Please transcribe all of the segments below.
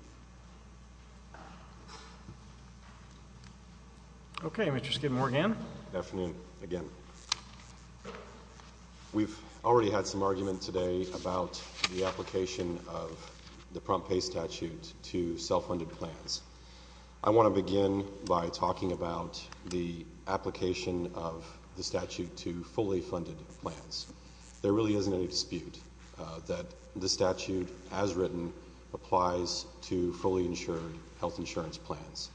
Dr. Dan Shuster Dr. Dan Shuster Good afternoon. We already had some argument today about the application of the Prompt Pay Statute to self-funded plans. I want to begin by talking about the application of the statute to fully funded plans. There really isn't any dispute that the statute, as written, applies to fully insured health insurance plans.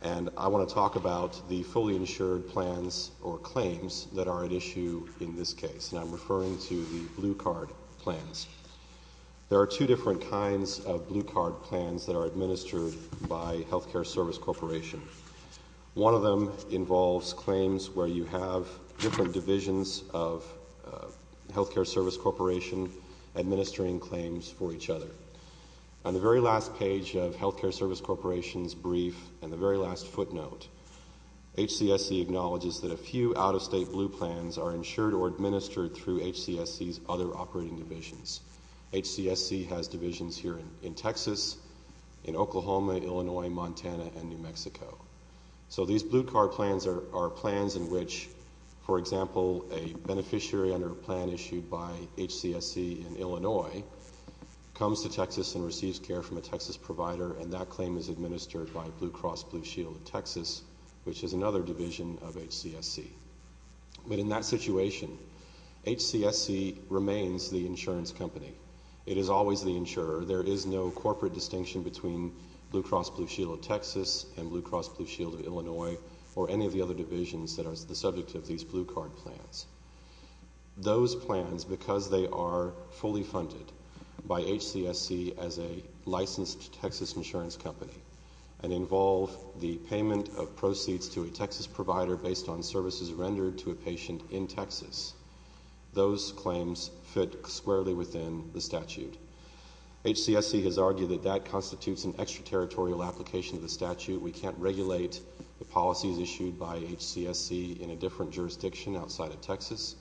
And I want to talk about the fully insured plans, or claims, that are at issue in this case. And I'm referring to the Blue Card plans. There are two different kinds of Blue Card plans that are administered by Healthcare Service Corporation. One of them involves claims where you have different divisions of Healthcare Service Corporation administering claims for each other. On the very last page of Healthcare Service Corporation's brief, and the very last footnote, HCSC acknowledges that a few out-of-state Blue Plans are insured or administered through HCSC's other operating divisions. HCSC has divisions here in Texas, in Oklahoma, Illinois, Montana, and New Mexico. So these Blue Card plans are plans in which, for example, a beneficiary under a plan issued by HCSC in Illinois comes to Texas and receives care from a Texas provider, and that claim is administered by Blue Cross Blue Shield of Texas, which is another division of HCSC. But in that situation, HCSC remains the insurance company. It is always the insurer. There is no corporate distinction between Blue Cross Blue Shield of Texas and Blue Cross Blue Shield of Illinois, or any of the other divisions that are the subject of these Blue Card plans. Those plans, because they are fully funded by HCSC as a licensed Texas insurance company, and involve the payment of proceeds to a Texas provider based on services rendered to a patient in Texas, those claims fit squarely within the statute. HCSC has argued that that constitutes an extraterritorial application of the statute. We can't regulate the policies issued by HCSC in a different jurisdiction outside of Texas.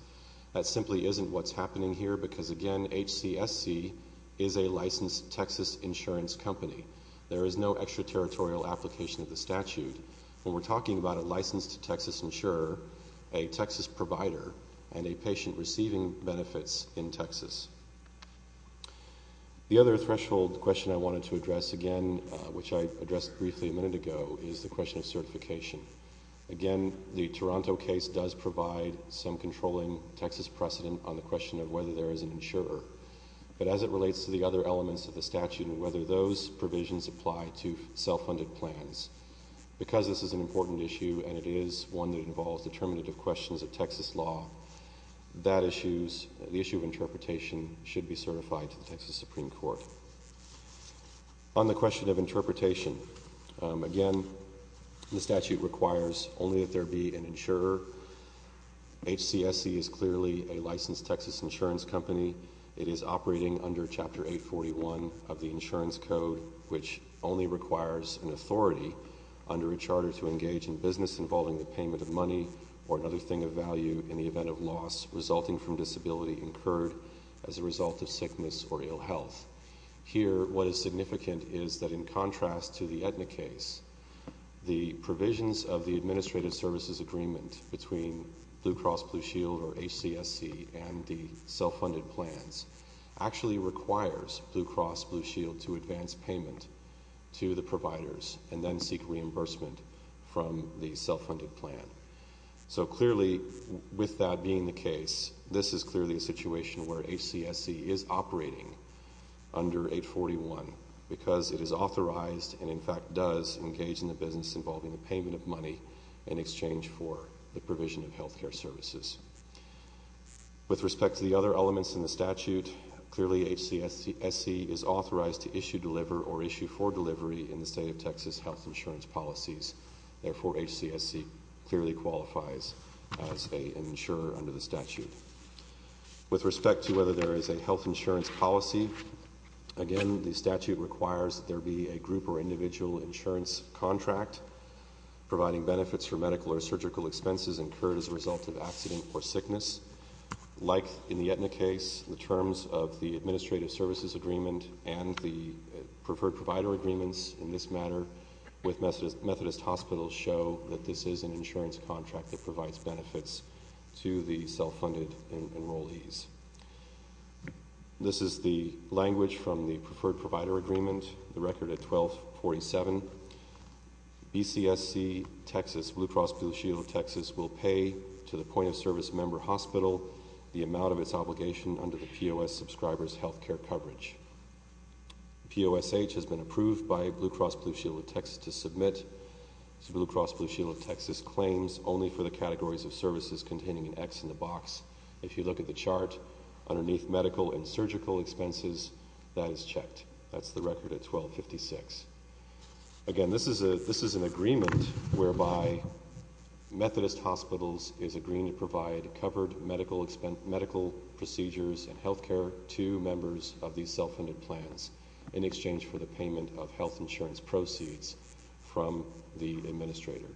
That simply isn't what's happening here because, again, HCSC is a licensed Texas insurance company. There is no extraterritorial application of the statute when we're talking about a licensed Texas insurer, a Texas provider, and a patient receiving benefits in Texas. The other threshold question I wanted to address again, which I addressed briefly a minute ago, is the question of certification. Again, the Toronto case does provide some controlling Texas precedent on the question of whether there is an insurer. But as it relates to the other elements of the statute and whether those provisions apply to self-funded plans, because this is an important issue and it is one that involves determinative questions of Texas law, that issue, the issue of interpretation, should be certified to the Texas Supreme Court. On the question of interpretation, again, the statute requires only that there be an insurer. HCSC is clearly a licensed Texas insurance company. It is operating under Chapter 41 of the Insurance Code, which only requires an authority under a charter to engage in business involving the payment of money or another thing of value in the event of loss resulting from disability incurred as a result of sickness or ill health. Here, what is significant is that in contrast to the Aetna case, the provisions of the Administrative Services Agreement between Blue Cross Blue Shield, or HCSC, and the self-funded plans actually requires Blue Cross Blue Shield to advance payment to the providers and then seek reimbursement from the self-funded plan. So clearly, with that being the case, this is clearly a situation where HCSC is operating under 841 because it is authorized and, in fact, does engage in the business involving the payment of money in exchange for the provision of health care services. With respect to the other elements in the statute, clearly HCSC is authorized to issue, deliver, or issue for delivery in the state of Texas health insurance policies. Therefore, HCSC clearly qualifies as an insurer under the statute. With respect to whether there is a health insurance policy, again, the statute requires that there be a group or individual insurance contract providing benefits for medical or surgical expenses incurred as a result of accident or sickness. Like in the Aetna case, the terms of the Administrative Services Agreement and the Preferred Provider Agreements in this matter with Methodist Hospitals show that this is an insurance contract that provides benefits to the self-funded enrollees. This is the language from the Preferred Provider Agreement, the record at 1247. BCSC, Texas, will pay to the point-of-service member hospital the amount of its obligation under the POS Subscribers Health Care Coverage. POSH has been approved by Blue Cross Blue Shield of Texas to submit Blue Cross Blue Shield of Texas claims only for the categories of services containing an X in the box. If you look at the chart underneath medical and surgical expenses, that is checked. That's the record at 1256. Again, this is an agreement whereby Methodist Hospitals is agreeing to provide covered medical procedures and health care to members of these self-funded plans in exchange for the payment of health insurance proceeds from the administrator.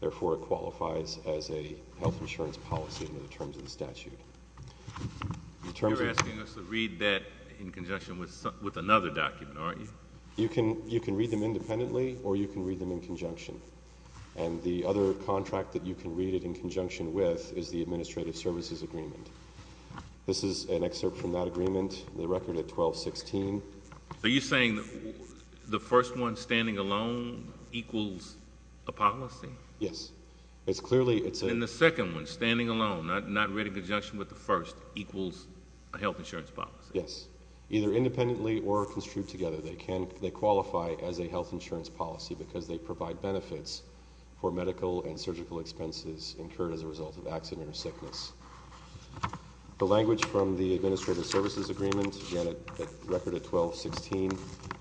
Therefore, it qualifies as a health insurance policy under the terms of the statute. You're asking us to read that in conjunction with another document, aren't you? You can read them independently or you can read them in conjunction. And the other contract that you can read it in conjunction with is the Administrative Services Agreement. This is an excerpt from that agreement, the record at 1216. Are you saying the first one, standing alone, equals a policy? Yes. It's clearly... And the second one, standing alone, not read in conjunction with the first, equals a health insurance policy? Yes. Either independently or construed together, they qualify as a health insurance policy because they provide benefits for medical and surgical expenses incurred as a result of accident or sickness. The language from the Administrative Services Agreement, again, the record at 1216,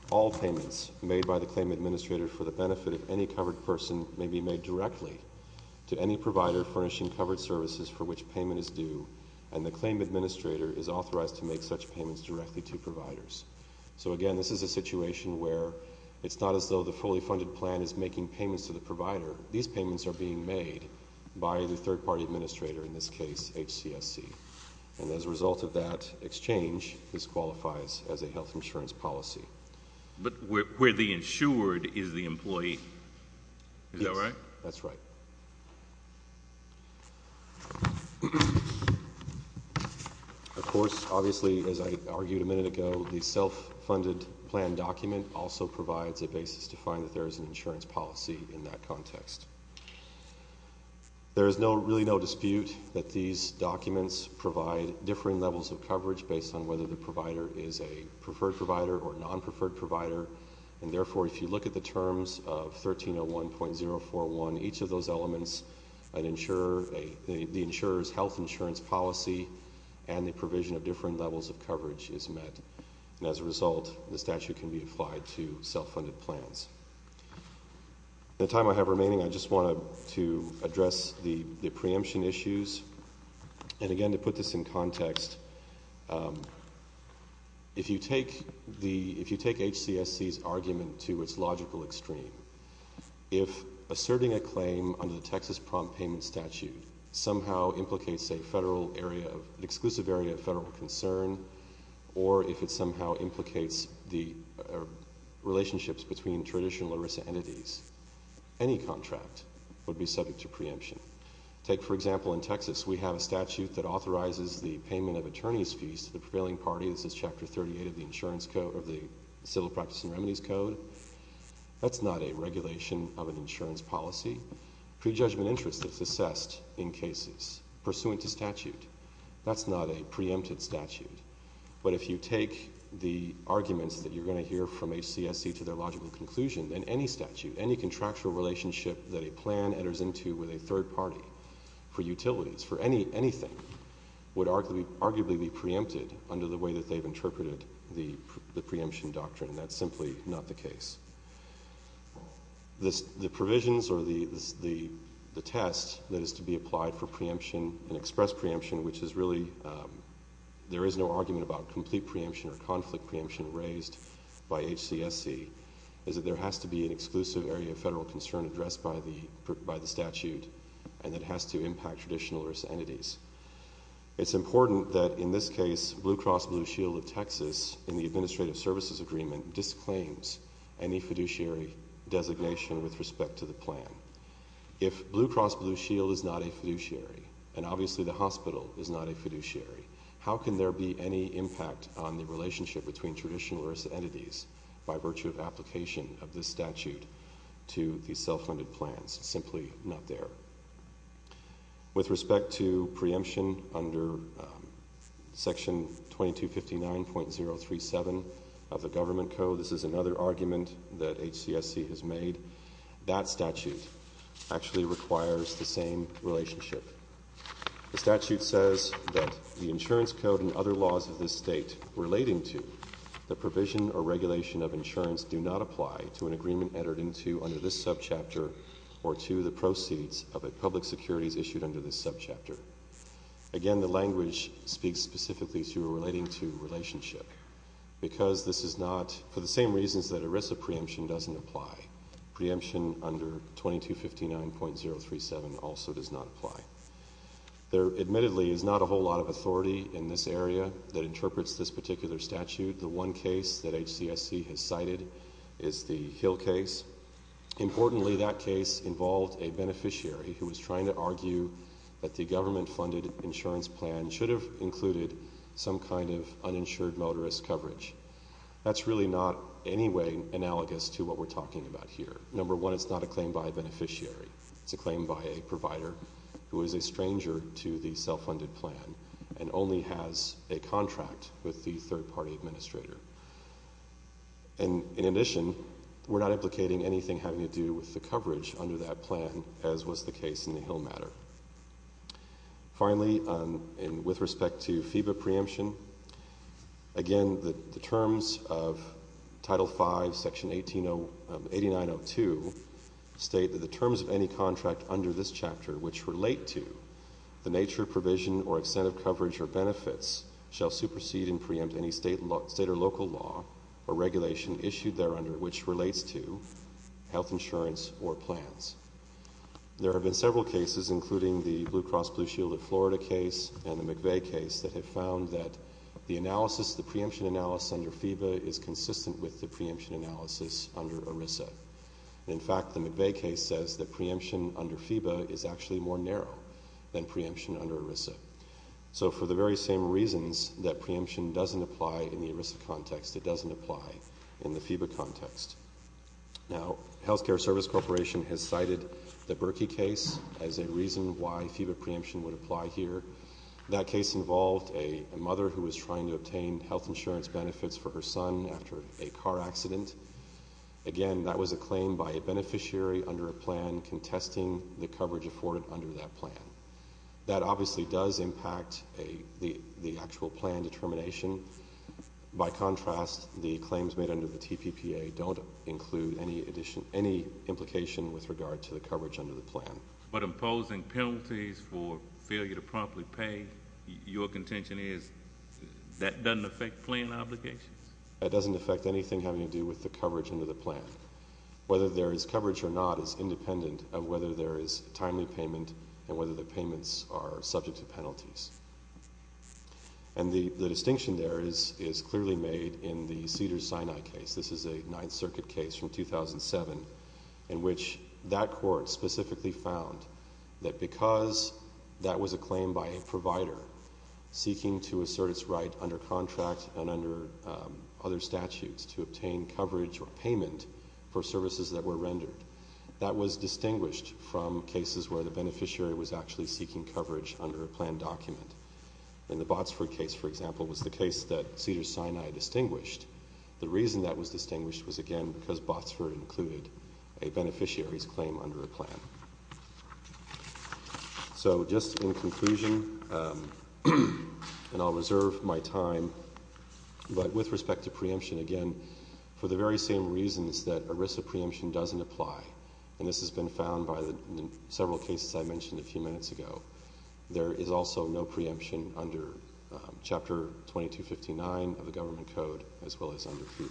all payments made by the claim administrator for the benefit of any covered person may be made directly to any provider furnishing covered services for which payment is due, and the claim administrator is authorized to make such payments directly to providers. So again, this is a situation where it's not as though the fully funded plan is making payments to the provider. These payments are being made by the third party administrator, in this case, HCSC. And as a result of that exchange, this qualifies as a health insurance policy. But where the insured is the employee. Is that right? Yes, that's right. Of course, obviously, as I argued a minute ago, the self-funded plan document also provides a basis to find that there is an insurance policy in that context. There is no, really no dispute that these documents provide differing levels of coverage based on whether the provider is a preferred provider or a non-preferred provider. And therefore, if you look at the terms of 1301.041, each of those elements, an insurer, the insurer's health insurance policy and the provision of different levels of coverage is met. And as a result, the statute can be applied to self-funded plans. In the time I have remaining, I just wanted to address the preemption issues. And again, to put this in context, if you take the, if you take HCSC's argument to its logical extreme, if asserting a claim under the Texas Prompt Payment Statute somehow implicates a federal area of, an exclusive area of federal concern, or if it somehow implicates the relationships between traditional ERISA entities, any contract would be subject to preemption. Take, for example, in Texas, we have a statute that authorizes the payment of attorney's fees to the prevailing party. This is Chapter 38 of the Insurance Code, of the Civil Practice and Remedies Code. That's not a regulation of an insurance policy. Prejudgment interest is assessed in cases pursuant to statute. That's not a preempted statute. But if you take the arguments that you're going to hear from HCSC to their logical conclusion, then any statute, any contractual relationship that a plan enters into with a third party for utilities, for any, anything, would arguably be preempted under the way that they've interpreted the preemption doctrine. That's simply not the case. The provisions or the test that is to be applied for preemption and express preemption, which is really, there is no argument about complete preemption or conflict preemption raised by HCSC, is that there has to be an exclusive area of federal concern addressed by the statute, and it has to impact traditional or as entities. It's important that in this case, Blue Cross Blue Shield of Texas, in the Administrative Services Agreement, disclaims any fiduciary designation with respect to the plan. If Blue Cross Blue Shield is not a fiduciary, and obviously the hospital is not a fiduciary, how can there be any impact on the relationship between traditional or as entities by virtue of application of this statute to the self-funded plans? Simply not there. With respect to preemption under Section 2259.037 of the Government Code, this is another argument that HCSC has made. That statute actually requires the same relationship. The statute says that the insurance code and other laws of this State relating to the provision or regulation of insurance do not apply to an agreement entered into under this subchapter or to the proceeds of public securities issued under this subchapter. Again, the language speaks specifically to relating to relationship. Because this is not, for the same reasons that ERISA preemption doesn't apply, preemption under 2259.037 also does not apply. There admittedly is not a whole lot of authority in this area that interprets this particular case involved a beneficiary who was trying to argue that the government-funded insurance plan should have included some kind of uninsured motorist coverage. That's really not anyway analogous to what we're talking about here. Number one, it's not a claim by a beneficiary. It's a claim by a provider who is a stranger to the self-funded plan and only has a contract with the third-party administrator. In addition, we're not implicating anything having to do with the coverage under that plan, as was the case in the Hill matter. Finally, and with respect to FEBA preemption, again, the terms of Title V, Section 8902 state that the terms of any contract under this chapter which relate to the nature, provision, or extent of coverage or benefits shall supersede and preempt any State or local law or regulation issued thereunder which relates to health insurance or plans. There have been several cases including the Blue Cross Blue Shield of Florida case and the McVeigh case that have found that the analysis, the preemption analysis under FEBA is consistent with the preemption analysis under ERISA. In fact, the McVeigh case says that preemption under FEBA is actually more narrow than preemption under ERISA. So for the very same reasons that preemption doesn't apply in the ERISA context, it doesn't apply in the FEBA context. Now, Healthcare Service Corporation has cited the Berkey case as a reason why FEBA preemption would apply here. That case involved a mother who was trying to obtain health insurance benefits for her son after a car accident. Again, that was a claim by a beneficiary under a plan contesting the coverage afforded under that plan. That obviously does impact the actual plan determination. By contrast, the claims made under the TPPA don't include any addition, any implication with regard to the coverage under the plan. But imposing penalties for failure to promptly pay, your contention is that doesn't affect plan obligations? It doesn't affect anything having to do with the coverage under the plan. Whether there is coverage or not is independent of whether there is timely payment and whether the payments are subject to penalties. And the distinction there is clearly made in the Cedars-Sinai case. This is a Ninth Circuit case from 2007 in which that court specifically found that because that was a claim by a provider seeking to assert its right under contract and under other statutes to obtain coverage or payment for services that were rendered, that was distinguished from cases where the beneficiary was actually seeking coverage under a plan document. In the Botsford case, for example, it was the case that Cedars-Sinai distinguished. The reason that was distinguished was, again, because Botsford included a beneficiary's claim under a plan. So just in conclusion, and I'll reserve my time, but with respect to preemption, again, for the very same reasons that ERISA preemption doesn't apply, and this has been found by the several cases I mentioned a few minutes ago, there is also no preemption under Chapter 2259 of the Government Code as well as under FVLA.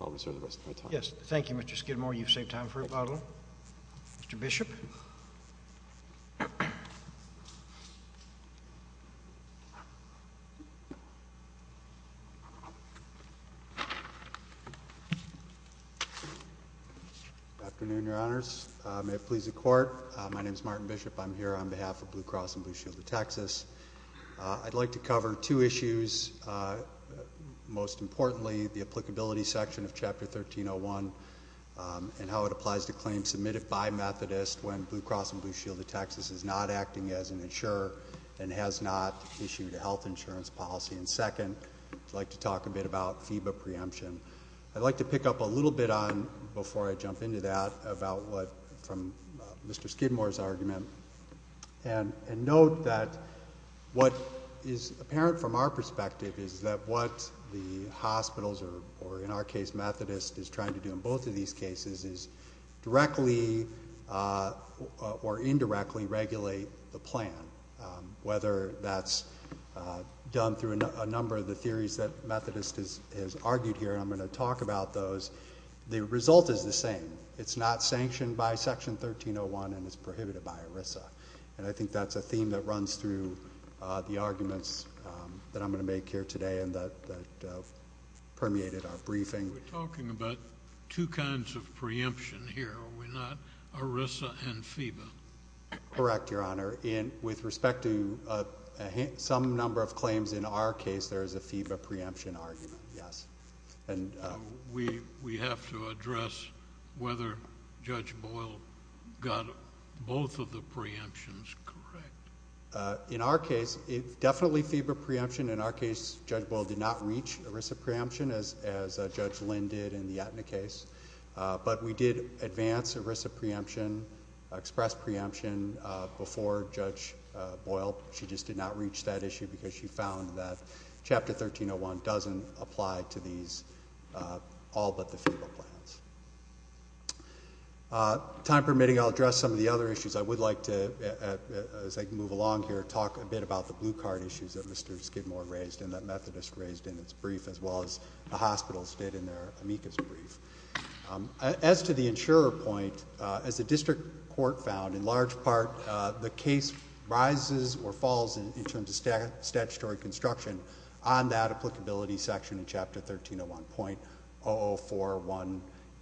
I'll reserve the rest of my time. Yes. Thank you, Mr. Skidmore. You've saved time for rebuttal. Mr. Bishop? Good afternoon, Your Honors. May it please the Court. My name is Martin Bishop. I'm here on behalf of Blue Cross and Blue Shield of Texas. I'd like to cover two issues. Most importantly, the applicability section of Chapter 1301 and how it applies to claims submitted by Methodist when Blue Cross and Blue Shield of Texas is not acting as an insurer and has not issued a health insurance policy. And second, I'd like to talk a bit about FEBA preemption. I'd like to pick up a little bit on, before I jump into that, about what, from Mr. Skidmore's argument, and note that what is apparent from our perspective is that what the hospitals, or in our case Methodist, is trying to do in both of these cases is directly or indirectly regulate the plan, whether that's done through a number of the theories that are argued here. I'm going to talk about those. The result is the same. It's not sanctioned by Section 1301 and it's prohibited by ERISA. And I think that's a theme that runs through the arguments that I'm going to make here today and that permeated our briefing. We're talking about two kinds of preemption here, are we not? ERISA and FEBA. Correct, Your Honor. With respect to some number of claims in our case, there is a FEBA preemption argument, yes. We have to address whether Judge Boyle got both of the preemptions correct. In our case, it's definitely FEBA preemption. In our case, Judge Boyle did not reach ERISA preemption as Judge Lynn did in the Aetna case. But we did advance ERISA preemption, express preemption before Judge Boyle. She just did not reach that issue because she doesn't apply to these all but the FEBA plans. Time permitting, I'll address some of the other issues. I would like to, as I move along here, talk a bit about the blue card issues that Mr. Skidmore raised and that Methodist raised in its brief as well as the hospitals did in their amicus brief. As to the insurer point, as the district court found, in large part the case rises or falls in terms of statutory construction on that applicability section in Chapter 1301.0041A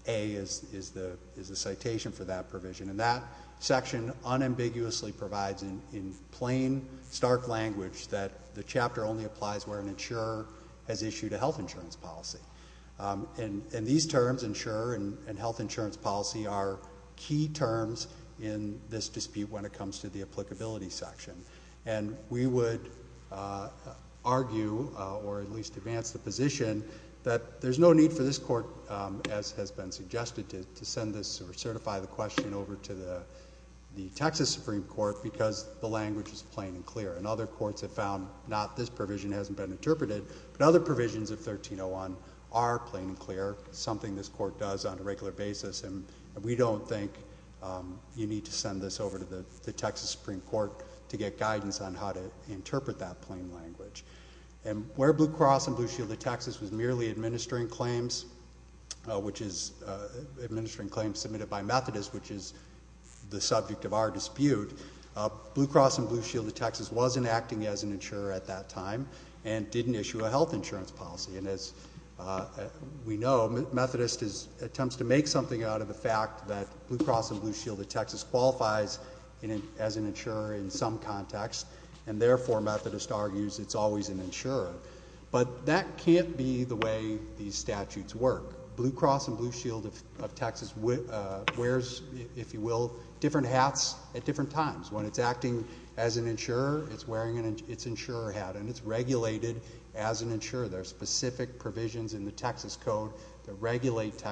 is the citation for that provision. That section unambiguously provides in plain, stark language that the chapter only applies where an insurer has issued a health insurance policy. These terms, insurer and health insurance policy, are key terms in this dispute when it comes to the issue. I would argue, or at least advance the position, that there's no need for this court, as has been suggested, to send this or certify the question over to the Texas Supreme Court because the language is plain and clear. Other courts have found not this provision hasn't been interpreted, but other provisions of 1301.00 are plain and clear, something this court does on a regular basis. We don't think you need to send this over to the Texas Supreme Court to get guidance on how to interpret that plain language. Where Blue Cross and Blue Shield of Texas was merely administering claims, which is administering claims submitted by Methodist, which is the subject of our dispute, Blue Cross and Blue Shield of Texas wasn't acting as an insurer at that time and didn't issue a health insurance policy. As we know, Methodist attempts to make something out of the fact that Blue Cross and Blue Shield of Texas qualifies as an insurer in some context, and therefore Methodist argues it's always an insurer. But that can't be the way these statutes work. Blue Cross and Blue Shield of Texas wears, if you will, different hats at different times. When it's acting as an insurer, it's wearing its insurer hat, and it's regulated as an insurer. There are specific provisions in the Texas Code that regulate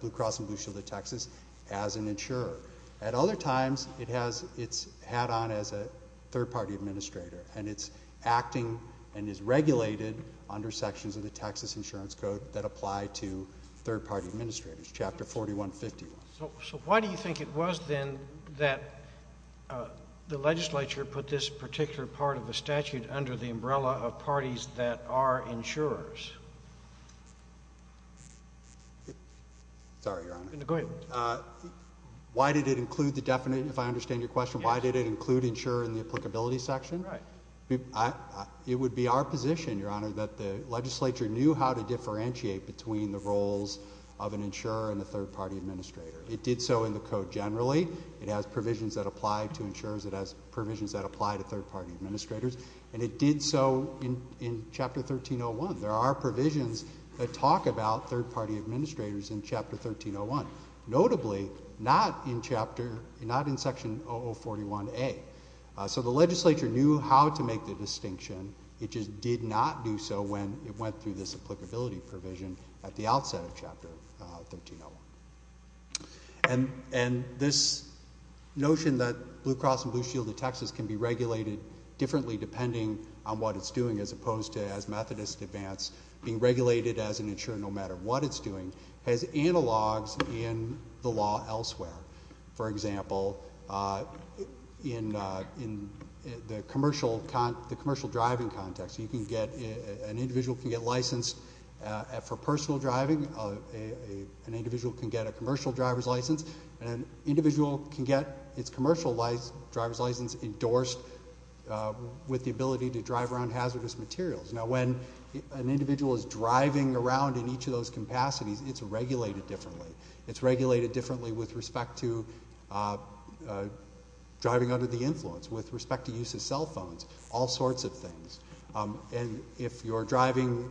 Blue Cross and Blue Shield of Texas as an insurer. At other times, it has its hat on as a third-party administrator, and it's acting and is regulated under sections of the Texas Insurance Code that apply to third-party administrators, Chapter 4151. So why do you think it was then that the legislature put this particular part of the statute under the umbrella of parties that are insurers? Sorry, Your Honor. No, go ahead. Why did it include the definite, if I understand your question, why did it include insurer in the applicability section? Right. It would be our position, Your Honor, that the legislature knew how to differentiate between the roles of an insurer and a third-party administrator. It did so in the Code generally. It has provisions that apply to insurers. It has provisions that apply to third-party administrators, and it did so in Chapter 1301. There are provisions that talk about third-party administrators in Chapter 1301. Notably, not in Section 0041A. So the legislature knew how to make the distinction. It just did not do so when it went through this applicability provision at the outset of Chapter 1301. And this notion that Blue Cross and Blue Shield of Texas can be regulated differently depending on what it's doing as opposed to, as Methodists advance, being regulated as an insurer no matter what it's doing, has analogs in the law elsewhere. For example, in the commercial driving context, an individual can get licensed for personal driving, an individual can get a commercial driver's license, and an individual can get its commercial driver's license endorsed with the ability to drive around hazardous materials. Now, when an individual is driving around in each of those capacities, it's regulated differently. It's regulated differently with respect to driving under the influence, with respect to use of cell phones, all sorts of things. And if you're driving,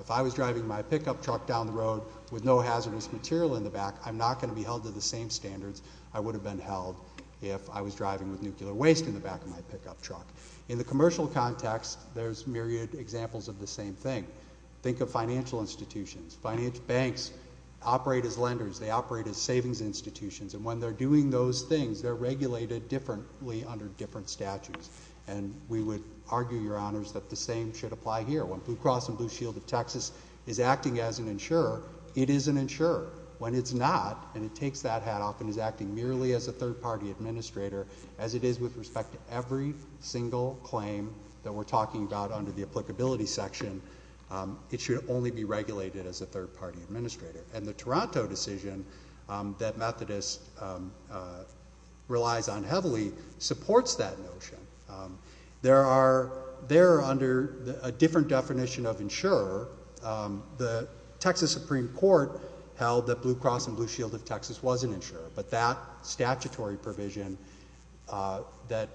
if I was driving my pickup truck down the road with no hazardous material in the back, I'm not going to be held to the same standards I would have been held if I was driving with nuclear waste in the back of my pickup truck. In the commercial context, there's myriad examples of the same thing. Think of financial institutions. Banks operate as lenders. They operate as savings institutions. And when they're doing those things, they're regulated differently under different statutes. And we would argue, Your Honors, that the same should apply here. When Blue Cross and Blue Shield of Texas is acting as an insurer, it is an insurer. When it's not, and it takes that hat off and is acting merely as a third-party administrator, as it is with respect to every single claim that we're talking about under the applicability section, it should only be regulated as a third-party administrator. And the Toronto decision that Methodist relies on heavily supports that notion. There are, they're under a different definition of insurer. The, the Texas Supreme Court held that Blue Cross and Blue Shield of Texas was an insurer. But that statutory provision that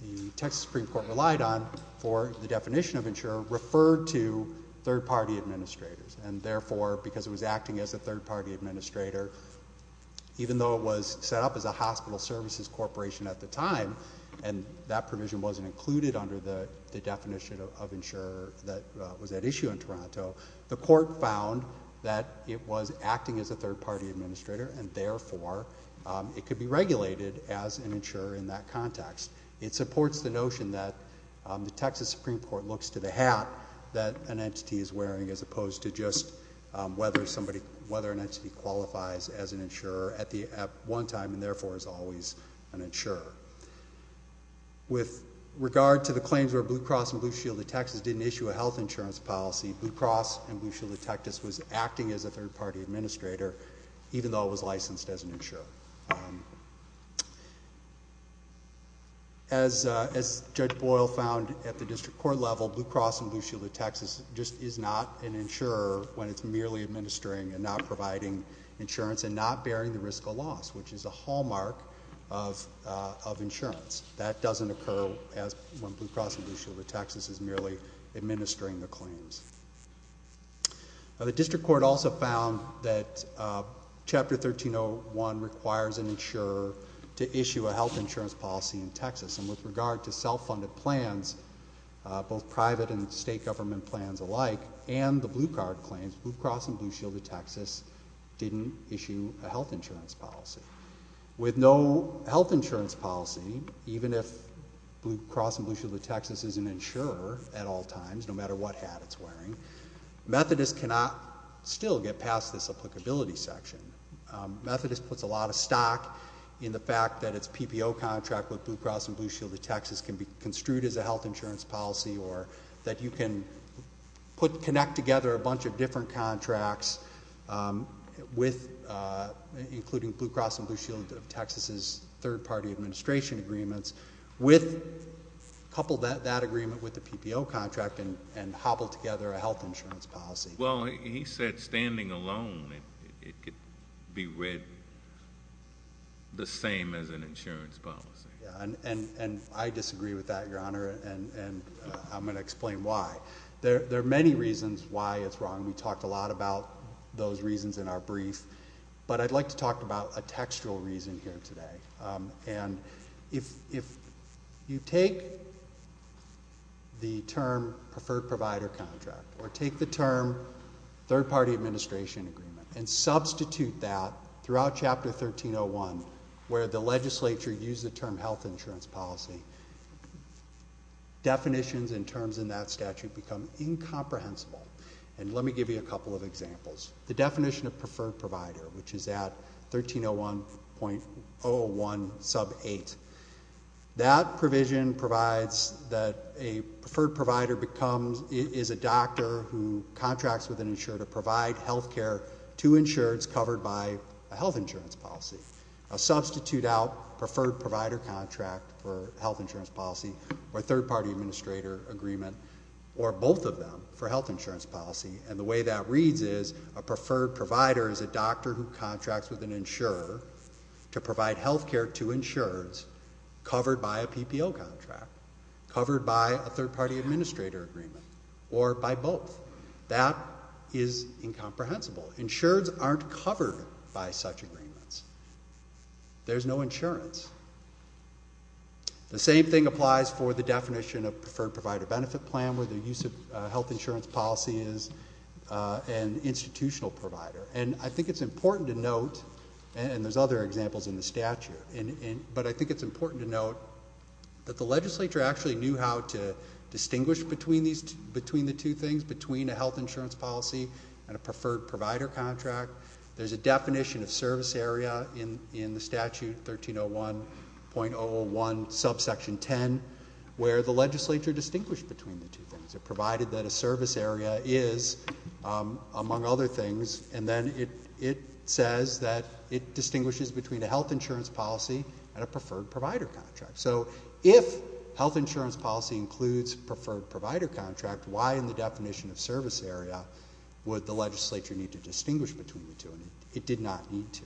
the Texas Supreme Court relied on for the definition of insurer referred to third-party administrators. And therefore, because it was acting as a third-party administrator, even though it was set up as a hospital services corporation at the time, and that provision wasn't included under the, the definition of insurer that was at issue in Toronto, the court found that it was acting as a third-party administrator, and therefore it could be regulated as an insurer in that context. It supports the notion that the Texas Supreme Court looks to the hat that an entity is wearing as opposed to just whether somebody, whether an entity qualifies as an insurer at the, at one time, and therefore is always an insurer. With regard to the claims where Blue Cross and Blue Shield of Texas didn't issue a health insurance policy, Blue Cross and Blue Shield of Texas was acting as a third-party administrator, even though it was licensed as an insurer. As, as Judge Boyle found at the district court level, Blue Cross and Blue Shield of Texas just is not an insurer when it's merely administering and not providing insurance and not bearing the risk of loss, which is a hallmark of, of insurance. That doesn't occur as, when Blue Cross and Blue Shield of Texas is not administering the claims. The district court also found that Chapter 1301 requires an insurer to issue a health insurance policy in Texas, and with regard to self-funded plans, both private and state government plans alike, and the Blue Card claims, Blue Cross and Blue Shield of Texas didn't issue a health insurance policy. With no health insurance policy, even if Blue Cross and Blue Shield of Texas is an insurer at all times, no matter what hat it's wearing, Methodist cannot still get past this applicability section. Methodist puts a lot of stock in the fact that its PPO contract with Blue Cross and Blue Shield of Texas can be construed as a health insurance policy or that you can put, connect together a bunch of different contracts with, including Blue Cross and Blue Shield of Texas's third-party administration agreements with, couple that, that agreement with the PPO contract and, and hobble together a health insurance policy. Well, he said standing alone, it could be read the same as an insurance policy. Yeah, and, and, and I disagree with that, Your Honor, and, and I'm going to explain why. There, there are many reasons why it's wrong. We talked a lot about those reasons in our brief, but I'd like to talk about a textual reason here today. And if, if you take the term preferred provider contract or take the term third-party administration agreement and substitute that throughout Chapter 1301 where the legislature used the term health insurance policy, definitions and terms in that statute become incomprehensible. And let me give you a couple of examples. The definition of preferred provider, which is that 1301.01 sub 8, that provision provides that a preferred provider becomes, is a doctor who contracts with an insurer to provide health care to insurers covered by a health insurance policy. A substitute out preferred provider contract for health insurance policy or third-party administrator agreement or both of them for health insurance policy. And the way that a doctor contracts with an insurer to provide health care to insurers covered by a PPO contract, covered by a third-party administrator agreement, or by both. That is incomprehensible. Insurers aren't covered by such agreements. There's no insurance. The same thing applies for the definition of preferred provider benefit plan where the use of health insurance policy is an institutional provider. And I think it's important to note, and there's other examples in the statute, but I think it's important to note that the legislature actually knew how to distinguish between the two things, between a health insurance policy and a preferred provider contract. There's a definition of service area in the statute 1301.01 sub section 10 where the legislature distinguished between the two things. It provided that a service area is, among other things, and then it says that it distinguishes between a health insurance policy and a preferred provider contract. So if health insurance policy includes preferred provider contract, why in the definition of service area would the legislature need to distinguish between the two? And it did not need to.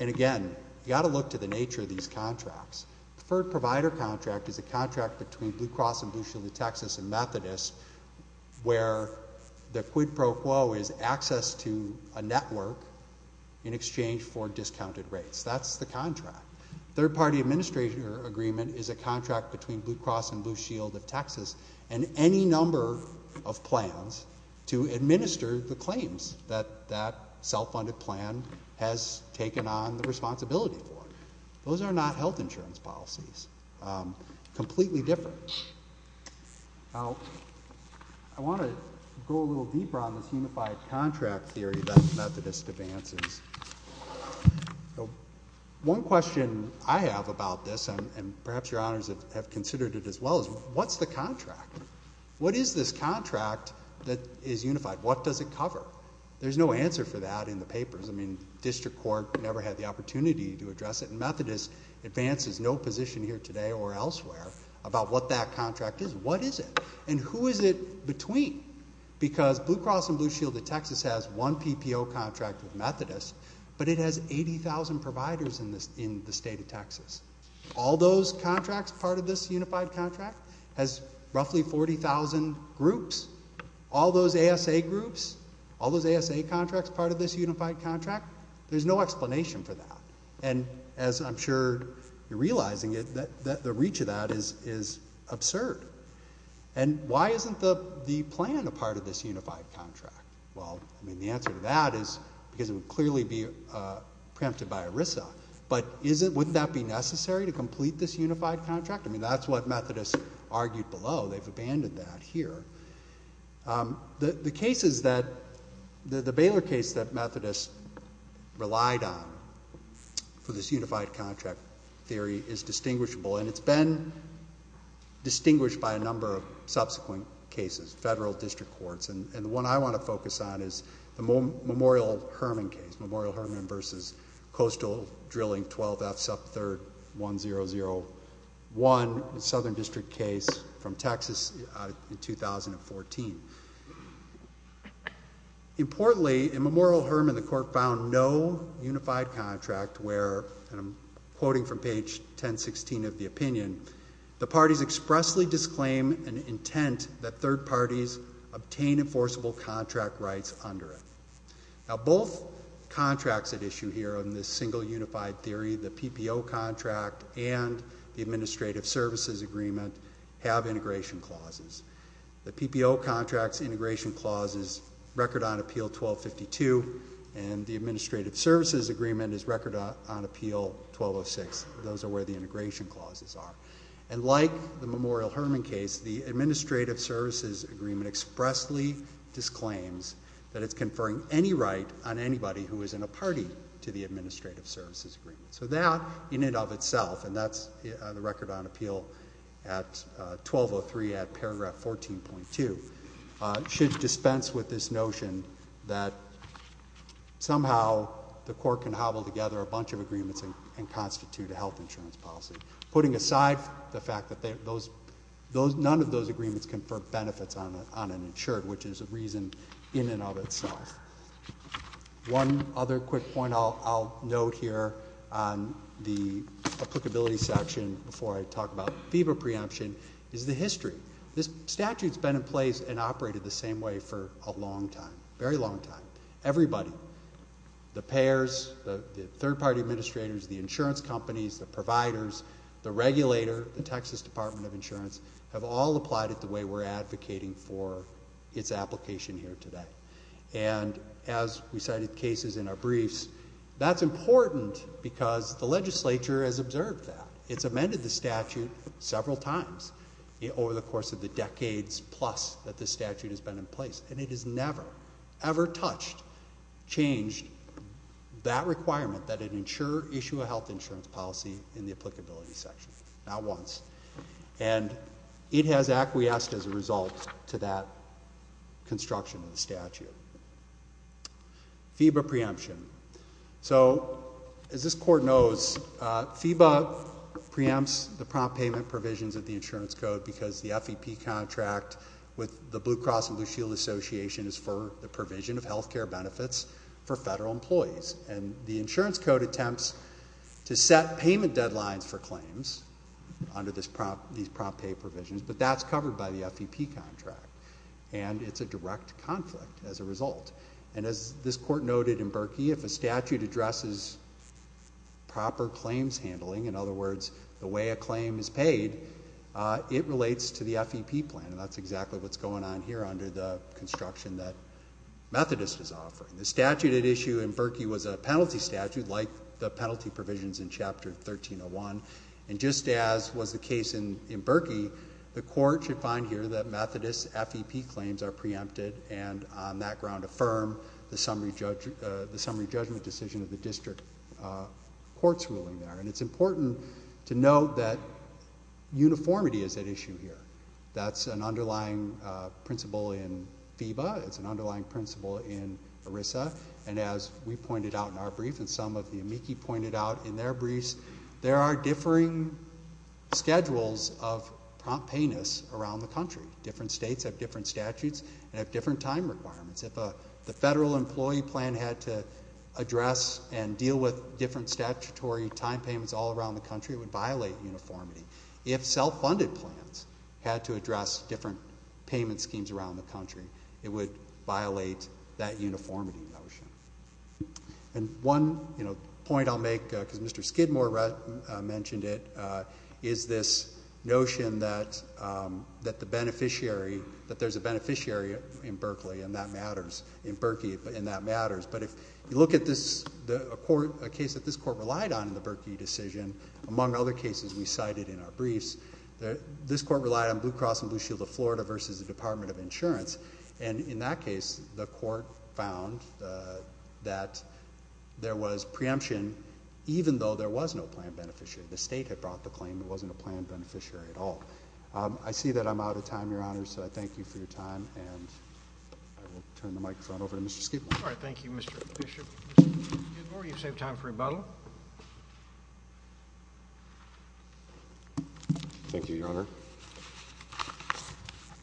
And again, you've got to look to the nature of these contracts. Preferred provider contract is a contract between Blue Cross and Blue Shield of Texas and Methodist where the quid pro quo is access to a network in exchange for discounted rates. That's the contract. Third party administration agreement is a contract between Blue Cross and Blue Shield of Texas and any number of plans to administer the claims that that self-funded plan has taken on the responsibility for. Those are not health insurance policies. Completely different. Now, I want to go a little deeper on this unified contract theory that Methodist advances. One question I have about this, and perhaps your honors have considered it as well, is what's the contract? What is this contract that is unified? What does it cover? There's no answer for that in the papers. District court never had the opportunity to address it. And Methodist advances, no position here today or elsewhere about what that contract is. What is it? And who is it between? Because Blue Cross and Blue Shield of Texas has one PPO contract with Methodist, but it has 80,000 providers in the state of Texas. All those contracts, part of this unified contract, has roughly 40,000 groups. All those ASA groups, all those ASA contracts, part of this unified contract, there's no explanation for that. And as I'm sure you're realizing, the reach of that is absurd. And why isn't the plan a part of this unified contract? Well, I mean, the answer to that is because it would clearly be preempted by ERISA. But wouldn't that be necessary to complete this unified contract? I mean, that's what Methodist argued below. They've abandoned that here. The cases that, the Baylor case that Methodist relied on for this unified contract theory is distinguishable. And it's been distinguished by a number of subsequent cases, federal district courts. And the one I want to focus on is the Memorial Hermann case, Memorial Hermann versus Coastal Drilling 12F Sub 3rd 1001, a southern district case from Texas in 2014. Importantly, in Memorial Hermann, the court found no unified contract where, and I'm quoting from page 1016 of the opinion, the parties expressly disclaim an intent that third parties obtain enforceable contract rights under it. Now, both contracts at issue here in this single unified theory, the PPO contract and the administrative services agreement have integration clauses. The PPO contract's integration clause is record on appeal 1252, and the administrative services agreement is record on appeal 1206. Those are where the integration clauses are. And like the Memorial Hermann case, the administrative services agreement expressly disclaims that it's conferring any right on anybody who is in a party to the administrative services agreement. So that, in and of itself, and that's the record on appeal at 1203 at paragraph 14.2, should dispense with this notion that somehow the court can hobble together a bunch of agreements and constitute a health insurance policy, putting aside the fact that none of those agreements confer benefits on an insured, which is a reason in and of itself. One other quick point I'll note here on the applicability section before I talk about FIBA preemption is the history. This statute's been in place and operated the same way for a long time, a very long time. Everybody, the payers, the third party administrators, the insurance companies, the providers, the regulator, the Texas Department of Insurance, have all applied it the way we're advocating for its application here today. And as we cited cases in our briefs, that's important because the legislature has amended the statute several times over the course of the decades plus that this statute has been in place. And it has never, ever touched, changed that requirement that an insurer issue a health insurance policy in the applicability section, not once. And it has acquiesced as a result to that construction of the statute. FIBA preemption. So as this quote preempts the prompt payment provisions of the insurance code because the FEP contract with the Blue Cross and Blue Shield Association is for the provision of health care benefits for federal employees. And the insurance code attempts to set payment deadlines for claims under these prompt pay provisions, but that's covered by the FEP contract. And it's a direct conflict as a result. And as this court noted in Berkey, if a statute addresses proper claims handling, in other words, the way a claim is paid, it relates to the FEP plan. And that's exactly what's going on here under the construction that Methodist is offering. The statute at issue in Berkey was a penalty statute like the penalty provisions in Chapter 1301. And just as was the case in Berkey, the court should find here that Methodist FEP claims are preempted and on that ground affirm the summary judgment decision of the district court's ruling there. And it's important to note that uniformity is at issue here. That's an underlying principle in FIBA. It's an underlying principle in ERISA. And as we pointed out in our brief and some of the amici pointed out in their briefs, there are differing schedules of prompt payness around the country. Different states have different statutes and have different time requirements. If the federal employee plan had to address and deal with different statutory time payments all around the country, it would violate uniformity. If self-funded plans had to address different payment schemes around the country, it would violate that uniformity notion. And one, you know, point I'll make because Mr. Skidmore mentioned it, is this notion that the beneficiary, that there's a beneficiary in Berkey and that matters. But if you look at this, a case that this court relied on in the Berkey decision, among other cases we cited in our briefs, this court relied on Blue Cross and Blue Shield of Florida versus the Department of Insurance. And in that case the court found that there was preemption even though there was no plan beneficiary. The state had brought the claim there wasn't a plan beneficiary at all. I see that I'm out of time, Your Honor, so I thank you for your time. And I will turn the microphone over to Mr. Skidmore. All right. Thank you, Mr. Bishop. Mr. Skidmore, you've saved time for rebuttal. Thank you, Your Honor.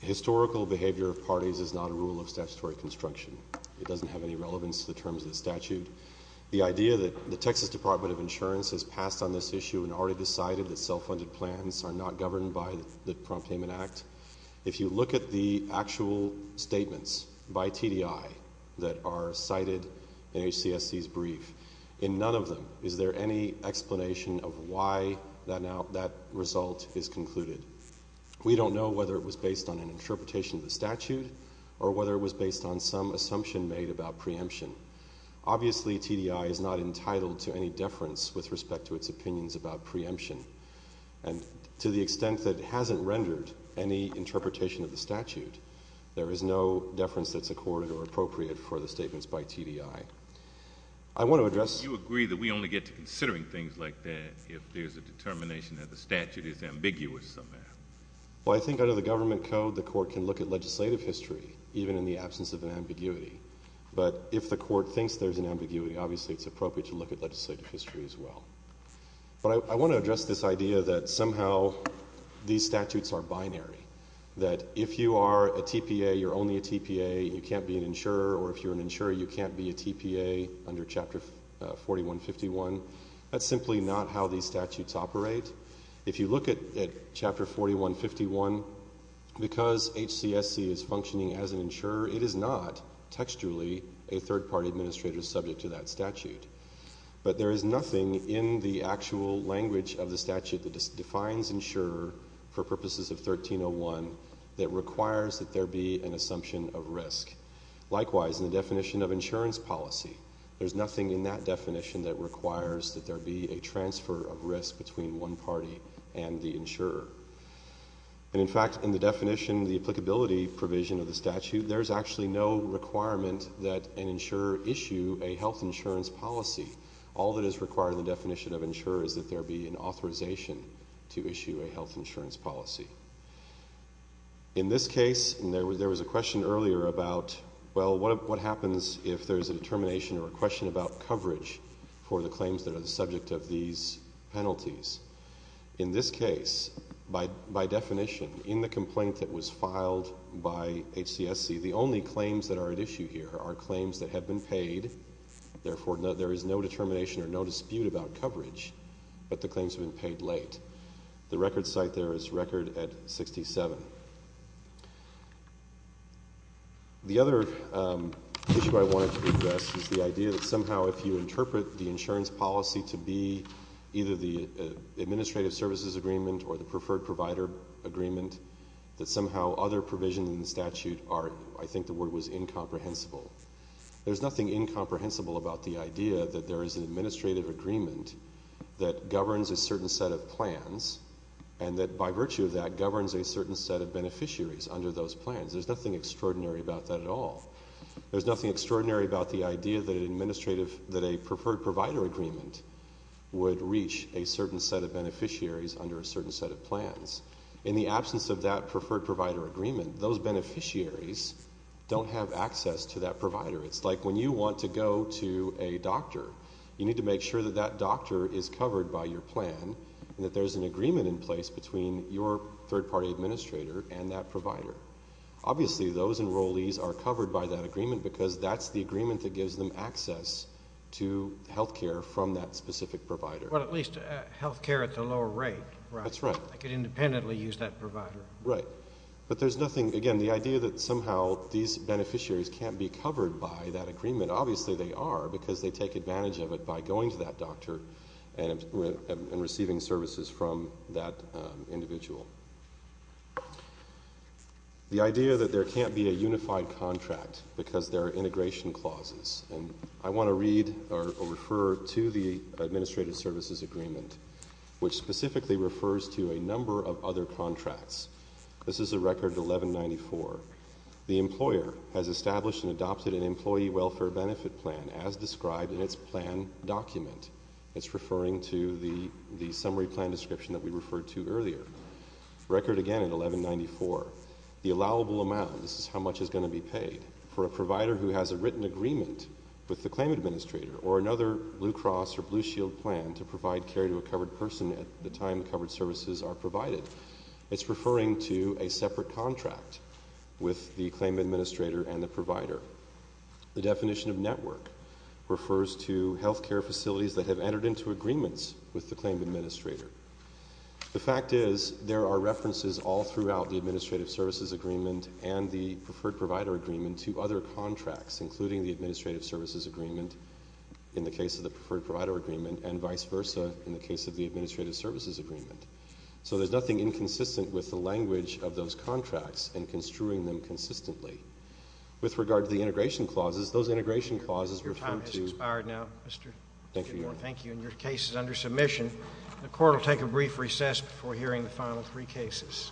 Historical behavior of parties is not a rule of statutory construction. It doesn't have any relevance to the terms of the statute. The idea that the Texas Department of Insurance has passed on this issue and already decided that self-funded plans are not governed by the Prompt Payment Act, if you look at the actual statements by TDI that are cited in HCSC's brief, in none of them is there any explanation of why that result is concluded. We don't know whether it was based on an interpretation of the statute or whether it was based on some assumption made about preemption. Obviously, TDI is not entitled to any deference with respect to its opinions about preemption. And to the extent that it hasn't rendered any interpretation of the statute, there is no deference that's accorded or appropriate for the statements by TDI. I want to address Do you agree that we only get to considering things like that if there's a determination that the statute is ambiguous somehow? Well, I think under the government code, the court can look at legislative history even in the absence of an ambiguity. But if the court thinks there's an ambiguity, obviously, it's appropriate to look at legislative history as well. But I want to address this idea that somehow these statutes are binary, that if you are a TPA, you're only a TPA, you can't be an insurer, or if you're an insurer, you can't be a TPA under Chapter 4151. That's simply not how these statutes operate. If you look at Chapter 4151, because HCSC is functioning as an insurer, it is not textually a third-party administrator subject to that statute. But there is nothing in the actual language of the statute that defines insurer for purposes of 1301 that requires that there be an assumption of risk. Likewise, in the definition of insurance policy, there's nothing in that definition that requires that there be a transfer of risk between one party and the insurer. And in fact, in the definition, the applicability provision of the statute, there's actually no requirement that an insurer issue a health insurance policy. All that is required in the definition of insurer is that there be an authorization to issue a health insurance policy. In this case, and there was a question earlier about, well, what happens if there's a determination or a question about the subject of these penalties? In this case, by definition, in the complaint that was filed by HCSC, the only claims that are at issue here are claims that have been paid. Therefore, there is no determination or no dispute about coverage, but the claims have been paid late. The record site there is record at 67. The other issue I wanted to address is the idea that somehow if you interpret the insurance policy to be either the administrative services agreement or the preferred provider agreement, that somehow other provisions in the statute are, I think the word was incomprehensible. There's nothing incomprehensible about the idea that there is an administrative agreement that governs a certain set of plans and that by virtue of that governs a certain set of beneficiaries under those plans. There's nothing extraordinary about that at all. There's nothing extraordinary about the idea that an administrative, that a preferred provider agreement would reach a certain set of beneficiaries under a certain set of plans. In the absence of that preferred provider agreement, those beneficiaries don't have access to that provider. It's like when you want to go to a doctor, you need to make sure that that doctor is covered by your plan and that there's an agreement in place between your third party administrator and that provider. Obviously, those enrollees are covered by that agreement because that's the agreement that gives them access to health care from that specific provider. Well, at least health care at the lower rate, right? That's right. They could independently use that provider. Right. But there's nothing, again, the idea that somehow these beneficiaries can't be covered by that agreement. Obviously, they are because they take advantage of it by going to that doctor and receiving services from that individual. The idea that there can't be a unified contract because there are integration clauses, and I want to read or refer to the administrative services agreement, which specifically refers to a number of other contracts. This is a record 1194. The employer has established and adopted an employee welfare benefit plan as described in its plan document. It's referring to the summary plan description that we referred to earlier. Record again in 1194. The allowable amount, this is how much is going to be paid for a provider who has a written agreement with the claim administrator or another Blue Cross or Blue Shield plan to provide care to a covered person at the time covered services are provided. It's referring to a separate contract with the claim administrator and the provider. The definition of network refers to health care facilities that have entered into agreements with the claim administrator. The fact is, there are references all throughout the administrative services agreement and the preferred provider agreement to other contracts, including the administrative services agreement, in the case of the preferred provider agreement, and vice versa. So there's nothing inconsistent with the language of those contracts and construing them consistently. With regard to the integration clauses, those integration clauses refer to... Your time has expired now, Mr. Gidmore. Thank you, Your Honor. Thank you, and your case is under submission. The court will take a brief recess before hearing the final three cases.